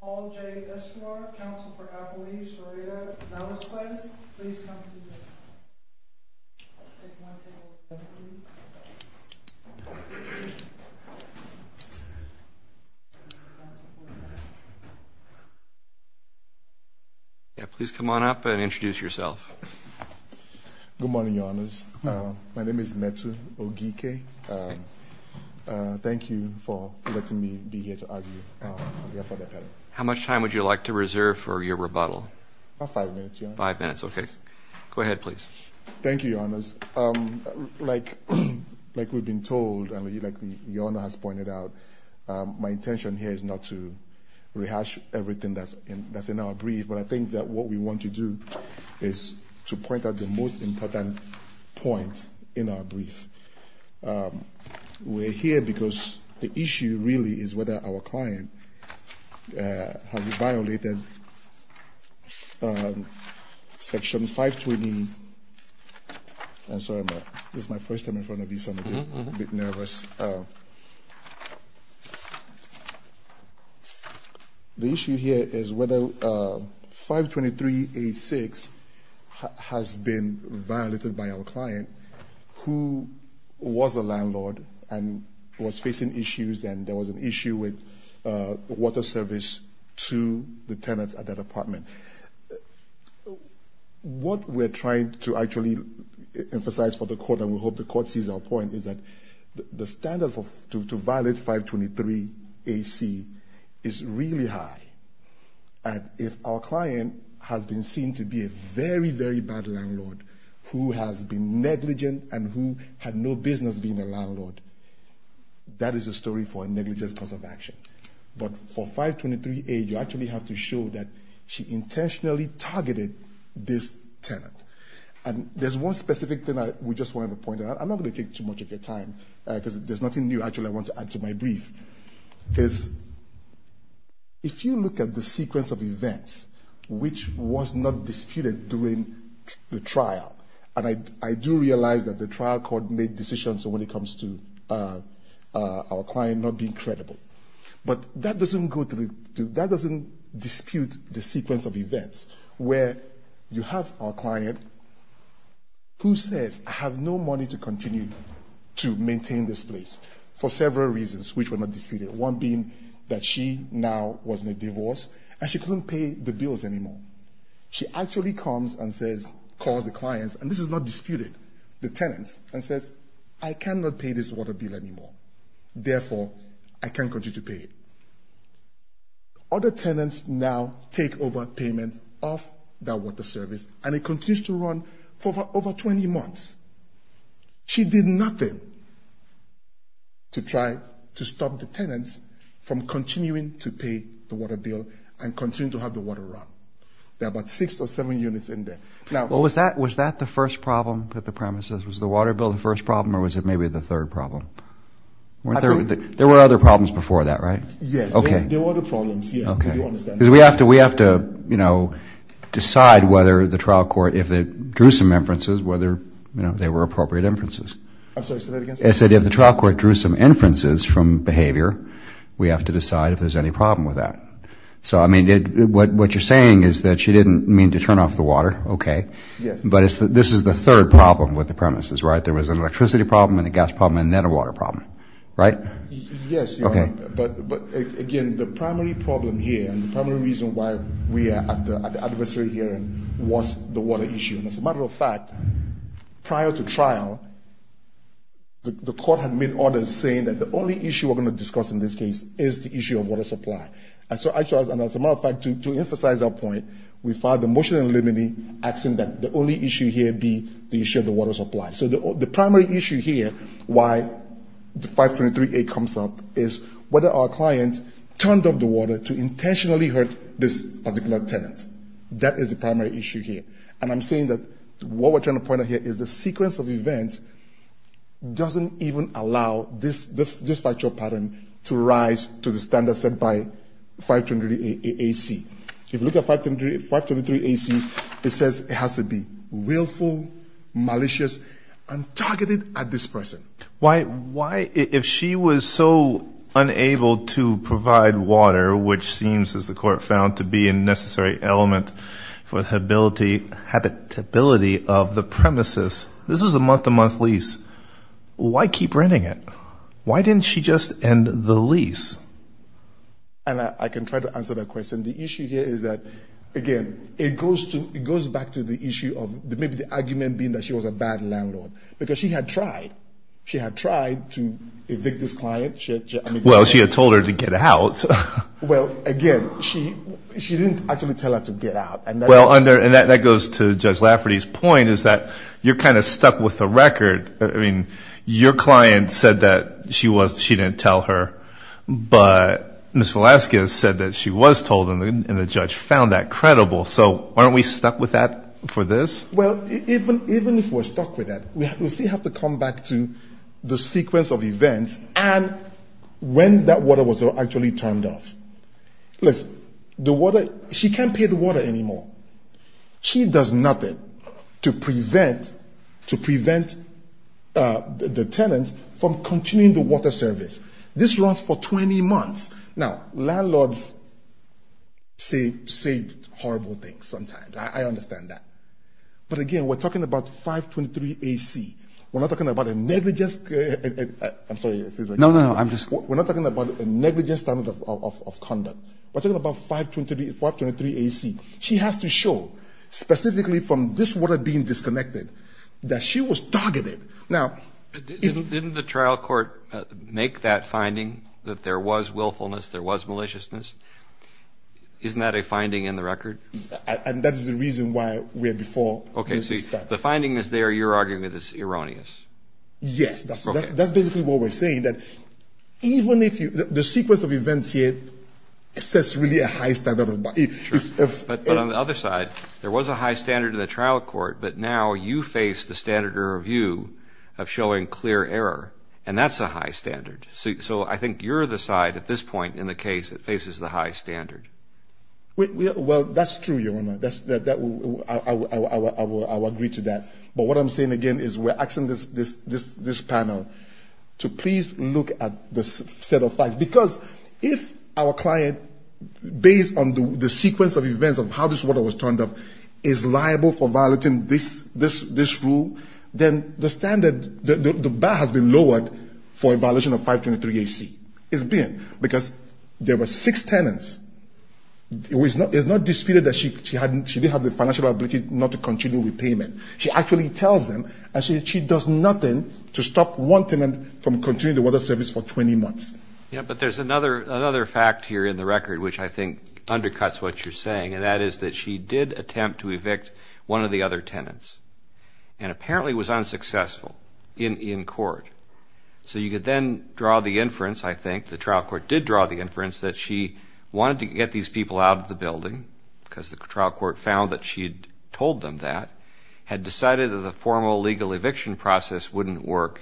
Paul J. Esquire, Council for Appalachia, Sarita, Namaskwes, please come to the podium. Please come on up and introduce yourself. Good morning, Your Honors. My name is Metu Ogike. Thank you for letting me be here to argue for the appellate. How much time would you like to reserve for your rebuttal? About five minutes, Your Honor. Five minutes, okay. Go ahead, please. Thank you, Your Honors. Like we've been told, and like Your Honor has pointed out, my intention here is not to rehash everything that's in our brief, but I think that what we want to do is to point out the most important point in our brief. We're here because the issue really is whether our client has violated Section 520. I'm sorry, this is my first time in front of you, so I'm a bit nervous. The issue here is whether 523A6 has been violated by our client who was a landlord and was facing issues, and there was an issue with water service to the tenants at that apartment. What we're trying to actually emphasize for the court, and we hope the court sees our point, is that the standard to violate 523AC is really high, and if our client has been seen to be a very, very bad landlord who has been negligent and who had no business being a landlord, that is a story for a negligence cause of action. But for 523A, you actually have to show that she intentionally targeted this tenant. And there's one specific thing that we just want to point out. I'm not going to take too much of your time, because there's nothing new actually I want to add to my brief. If you look at the sequence of events which was not disputed during the trial, and I do realize that the trial court made decisions when it comes to our client not being credible, but that doesn't dispute the sequence of events where you have our client who says, I have no money to continue to maintain this place for several reasons which were not disputed, one being that she now was in a divorce and she couldn't pay the bills anymore. She actually comes and says, calls the clients, and this is not disputed, the tenants, and says, I cannot pay this water bill anymore. Therefore, I can't continue to pay it. Other tenants now take over payment of that water service, and it continues to run for over 20 months. She did nothing to try to stop the tenants from continuing to pay the water bill and continue to have the water run. There are about six or seven units in there. Was that the first problem at the premises? Was the water bill the first problem, or was it maybe the third problem? There were other problems before that, right? Yes, there were other problems. We have to decide whether the trial court, if it drew some inferences, whether they were appropriate inferences. I'm sorry, say that again? I said if the trial court drew some inferences from behavior, we have to decide if there's any problem with that. What you're saying is that she didn't mean to turn off the water, okay. Yes. But this is the third problem with the premises, right? There was an electricity problem and a gas problem and then a water problem, right? Yes, you're right. Okay. But again, the primary problem here and the primary reason why we are at the adversary hearing was the water issue. As a matter of fact, prior to trial, the court had made orders saying that the only issue we're going to discuss in this case is the issue of water supply. And so, as a matter of fact, to emphasize that point, we filed a motion eliminating, asking that the only issue here be the issue of the water supply. So the primary issue here why the 523A comes up is whether our client turned off the water to intentionally hurt this particular tenant. That is the primary issue here. And I'm saying that what we're trying to point out here is the sequence of events doesn't even allow this factual pattern to rise to the standard set by 523AC. If you look at 523AC, it says it has to be willful, malicious, and targeted at this person. Why if she was so unable to provide water, which seems, as the court found, to be a necessary element for the habitability of the premises, this was a month-to-month lease. Why keep renting it? Why didn't she just end the lease? And I can try to answer that question. The issue here is that, again, it goes back to the issue of maybe the argument being that she was a bad landlord, because she had tried. She had tried to evict this client. Well, she had told her to get out. Well, again, she didn't actually tell her to get out. And that goes to Judge Lafferty's point is that you're kind of stuck with the record. I mean, your client said that she didn't tell her, but Ms. Velasquez said that she was told, and the judge found that credible. So aren't we stuck with that for this? Well, even if we're stuck with that, we still have to come back to the sequence of events and when that water was actually turned off. Listen, the water, she can't pay the water anymore. She does nothing to prevent the tenant from continuing the water service. This runs for 20 months. Now, landlords say horrible things sometimes. I understand that. But, again, we're talking about 523 AC. We're not talking about a negligent standard of conduct. We're talking about 523 AC. She has to show, specifically from this water being disconnected, that she was targeted. Didn't the trial court make that finding that there was willfulness, there was maliciousness? Isn't that a finding in the record? And that is the reason why we're before Ms. Velasquez. Okay, so the finding is there. You're arguing that it's erroneous. Yes. That's basically what we're saying, that even if the sequence of events here sets really a high standard. But on the other side, there was a high standard in the trial court, but now you face the standard of review of showing clear error, and that's a high standard. So I think you're the side at this point in the case that faces the high standard. Well, that's true, Your Honor. I will agree to that. But what I'm saying again is we're asking this panel to please look at the set of facts. Because if our client, based on the sequence of events of how this water was turned off, is liable for violating this rule, then the standard, the bar has been lowered for a violation of 523 AC. It's been, because there were six tenants. It's not disputed that she didn't have the financial ability not to continue repayment. She actually tells them, and she does nothing to stop one tenant from continuing the water service for 20 months. Yeah, but there's another fact here in the record, which I think undercuts what you're saying. And that is that she did attempt to evict one of the other tenants, and apparently was unsuccessful in court. So you could then draw the inference, I think, the trial court did draw the inference that she wanted to get these people out of the building, because the trial court found that she had told them that, had decided that the formal legal eviction process wouldn't work,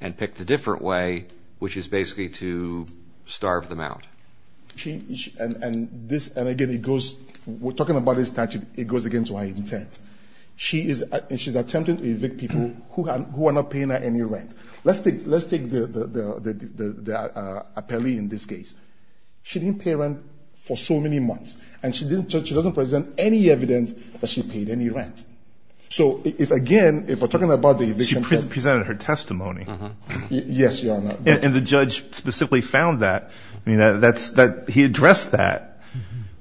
and picked a different way, which is basically to starve them out. And again, it goes, we're talking about this statute, it goes again to her intent. She is attempting to evict people who are not paying her any rent. Let's take the appellee in this case. She didn't pay rent for so many months, and she doesn't present any evidence that she paid any rent. So if, again, if we're talking about the eviction process. She presented her testimony. Yes, Your Honor. And the judge specifically found that. I mean, he addressed that.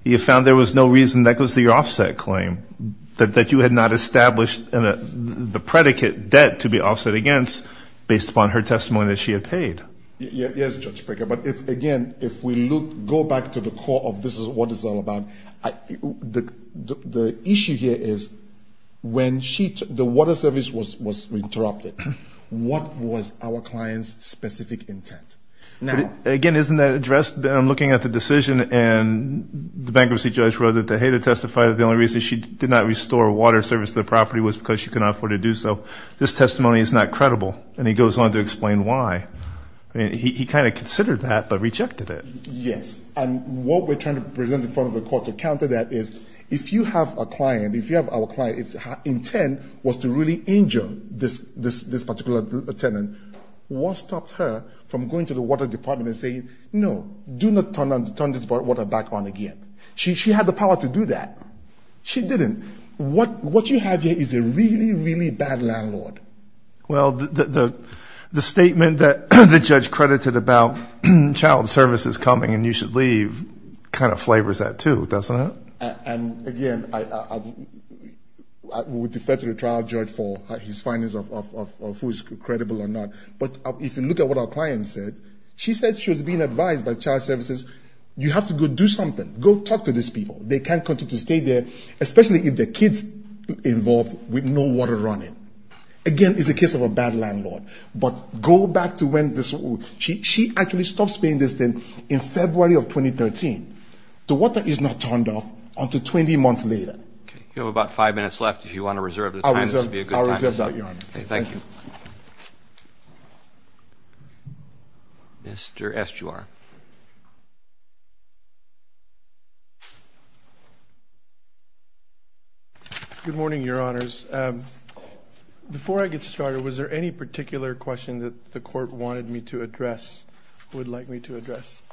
He found there was no reason, that goes to your offset claim, that you had not established the predicate debt to be offset against based upon her testimony that she had paid. Yes, Judge Pricker, but again, if we look, go back to the core of this is what it's all about. The issue here is, when the water service was interrupted, what was our client's specific intent? Now. Again, isn't that addressed? I'm looking at the decision, and the bankruptcy judge wrote that the hater testified that the only reason she did not restore water service to the property was because she could not afford to do so. This testimony is not credible. And he goes on to explain why. I mean, he kind of considered that but rejected it. Yes. And what we're trying to present in front of the court to counter that is, if you have a client, if you have our client, if her intent was to really injure this particular tenant, what stops her from going to the water department and saying, no, do not turn this water back on again? She had the power to do that. She didn't. What you have here is a really, really bad landlord. Well, the statement that the judge credited about child services coming and you should leave kind of flavors that, too, doesn't it? And, again, I would defer to the trial judge for his findings of who is credible or not. But if you look at what our client said, she said she was being advised by child services, you have to go do something. Go talk to these people. They can't continue to stay there, especially if the kid's involved with no water running. Again, it's a case of a bad landlord. But go back to when this ‑‑ she actually stops paying this thing in February of 2013. The water is not turned off until 20 months later. You have about five minutes left. If you want to reserve the time, this would be a good time. I'll reserve that, Your Honor. Thank you. Mr. Estuar. Good morning, Your Honors. Before I get started, was there any particular question that the court wanted me to address, would like me to address?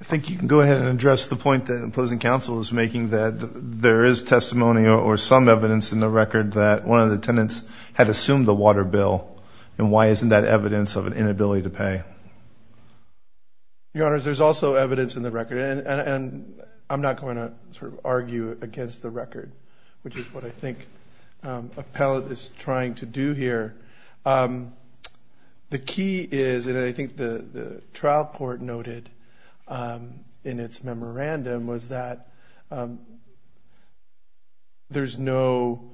I think you can go ahead and address the point that opposing counsel is making, that there is testimony or some evidence in the record that one of the tenants had assumed the water bill, and why isn't that evidence of an inability to pay? Your Honors, there's also evidence in the record, and I'm not going to sort of argue against the record, which is what I think Appellate is trying to do here. The key is, and I think the trial court noted in its memorandum, was that there's no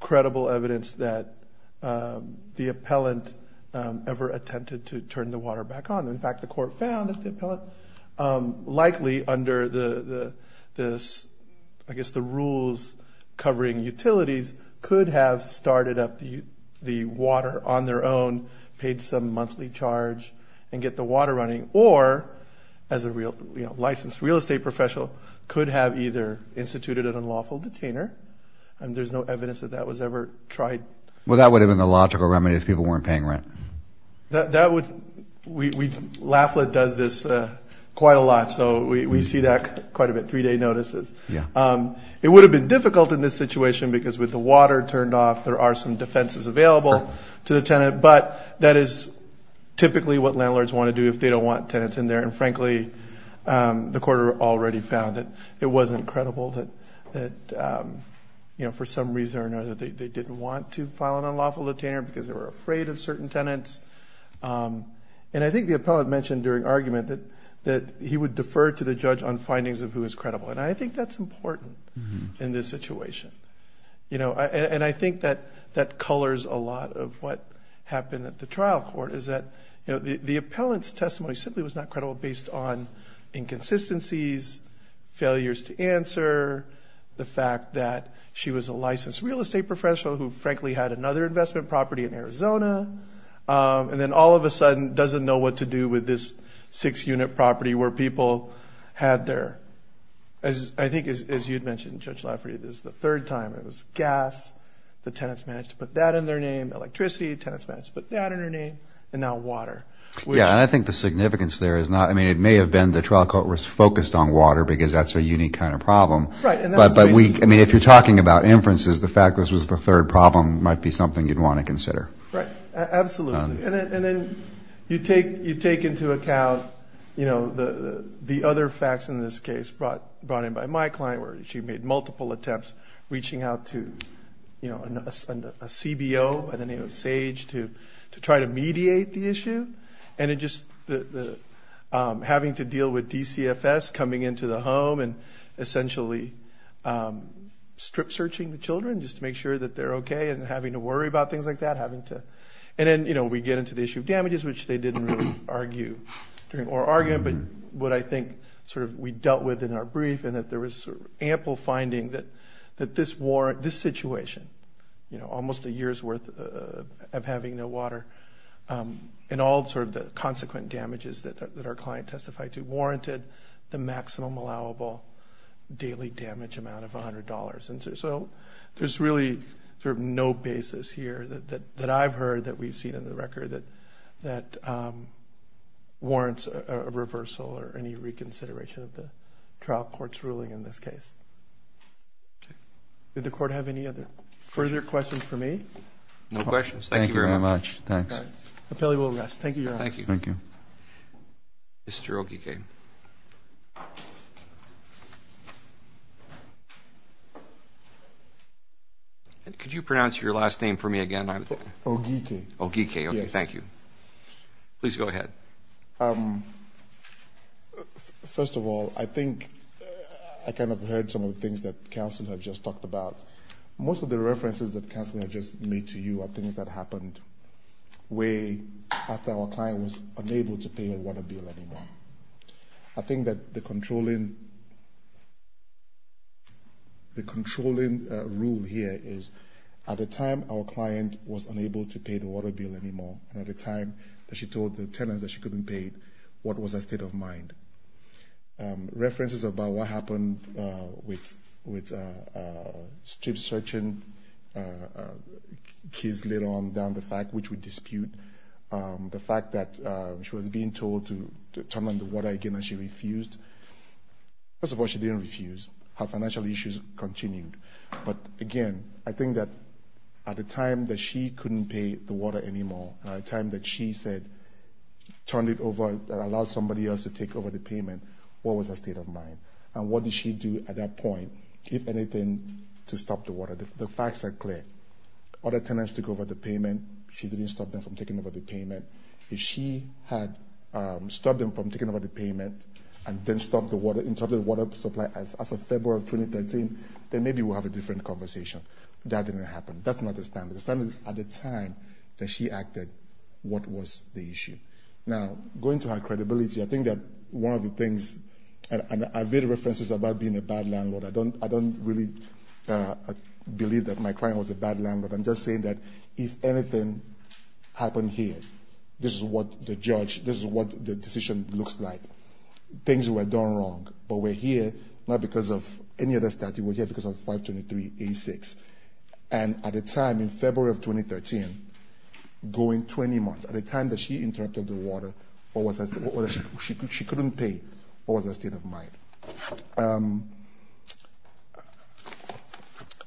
credible evidence that the appellant ever attempted to turn the water back on. In fact, the court found that the appellant likely, under the rules covering utilities, could have started up the water on their own, paid some monthly charge, and get the water running, or as a licensed real estate professional, could have either instituted an unlawful detainer, and there's no evidence that that was ever tried. Well, that would have been the logical remedy if people weren't paying rent. That would, LAFLA does this quite a lot, so we see that quite a bit, three-day notices. It would have been difficult in this situation because with the water turned off, there are some defenses available to the tenant, but that is typically what landlords want to do if they don't want tenants in there, and frankly, the court already found that it wasn't credible, that for some reason or another they didn't want to file an unlawful detainer because they were afraid of certain tenants. And I think the appellant mentioned during argument that he would defer to the judge on findings of who is credible, and I think that's important in this situation, and I think that colors a lot of what happened at the trial court, is that the appellant's testimony simply was not credible based on inconsistencies, failures to answer, the fact that she was a licensed real estate professional who frankly had another investment property in Arizona, and then all of a sudden doesn't know what to do with this six-unit property where people had their, I think as you'd mentioned, Judge Lafferty, this is the third time it was gas, the tenants managed to put that in their name, electricity, tenants managed to put that in their name, and now water. Yeah, and I think the significance there is not, I mean, it may have been the trial court was focused on water because that's a unique kind of problem, but if you're talking about inferences, the fact this was the third problem might be something you'd want to consider. Right, absolutely. And then you take into account the other facts in this case brought in by my client, where she made multiple attempts reaching out to a CBO by the name of Sage to try to mediate the issue, and it just, having to deal with DCFS coming into the home and essentially strip-searching the children just to make sure that they're okay and having to worry about things like that, having to, and then, you know, we get into the issue of damages, which they didn't really argue during our argument, but what I think sort of we dealt with in our brief and that there was sort of ample finding that this warrant, this situation, you know, almost a year's worth of having no water and all sort of the consequent damages that our client testified to warranted the maximum allowable daily damage amount of $100. And so there's really sort of no basis here that I've heard that we've seen in the record that warrants a reversal or any reconsideration of the trial court's ruling in this case. Did the court have any other further questions for me? No questions. Thank you very much. Appellee will rest. Thank you, Your Honor. Thank you. Thank you. Mr. Ogike. Could you pronounce your last name for me again? Ogike. Ogike. Yes. Okay, thank you. Please go ahead. First of all, I think I kind of heard some of the things that counsel have just talked about. Most of the references that counsel have just made to you are things that happened way after our client was unable to pay her water bill anymore. I think that the controlling rule here is at the time our client was unable to pay the water bill anymore and at the time that she told the tenants that she couldn't pay, what was her state of mind? References about what happened with strip searching, keys later on down the fact which would dispute the fact that she was being told to turn on the water again and she refused. First of all, she didn't refuse. Her financial issues continued. But again, I think that at the time that she couldn't pay the water anymore, at the time that she said turn it over and allow somebody else to take over the payment, what was her state of mind? And what did she do at that point, if anything, to stop the water? The facts are clear. Other tenants took over the payment. She didn't stop them from taking over the payment. If she had stopped them from taking over the payment and then stopped the water, interrupted the water supply, as of February of 2013, then maybe we'll have a different conversation. That didn't happen. That's not the standard. The standard is at the time that she acted, what was the issue? Now, going to her credibility, I think that one of the things, and I've made references about being a bad landlord. I don't really believe that my client was a bad landlord. I'm just saying that if anything happened here, this is what the judge, this is what the decision looks like. Things were done wrong. But we're here not because of any other statute. We're here because of 523A6. And at the time, in February of 2013, going 20 months, at the time that she interrupted the water, she couldn't pay. What was her state of mind?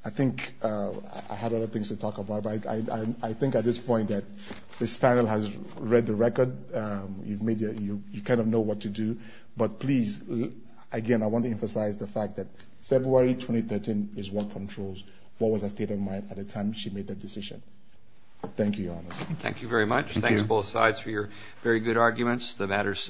I think I have other things to talk about. I think at this point that this panel has read the record. You kind of know what to do. But please, again, I want to emphasize the fact that February 2013 is what controls what was her state of mind at the time she made that decision. Thank you, Your Honor. Thank you very much. Thanks, both sides, for your very good arguments. The matter is submitted.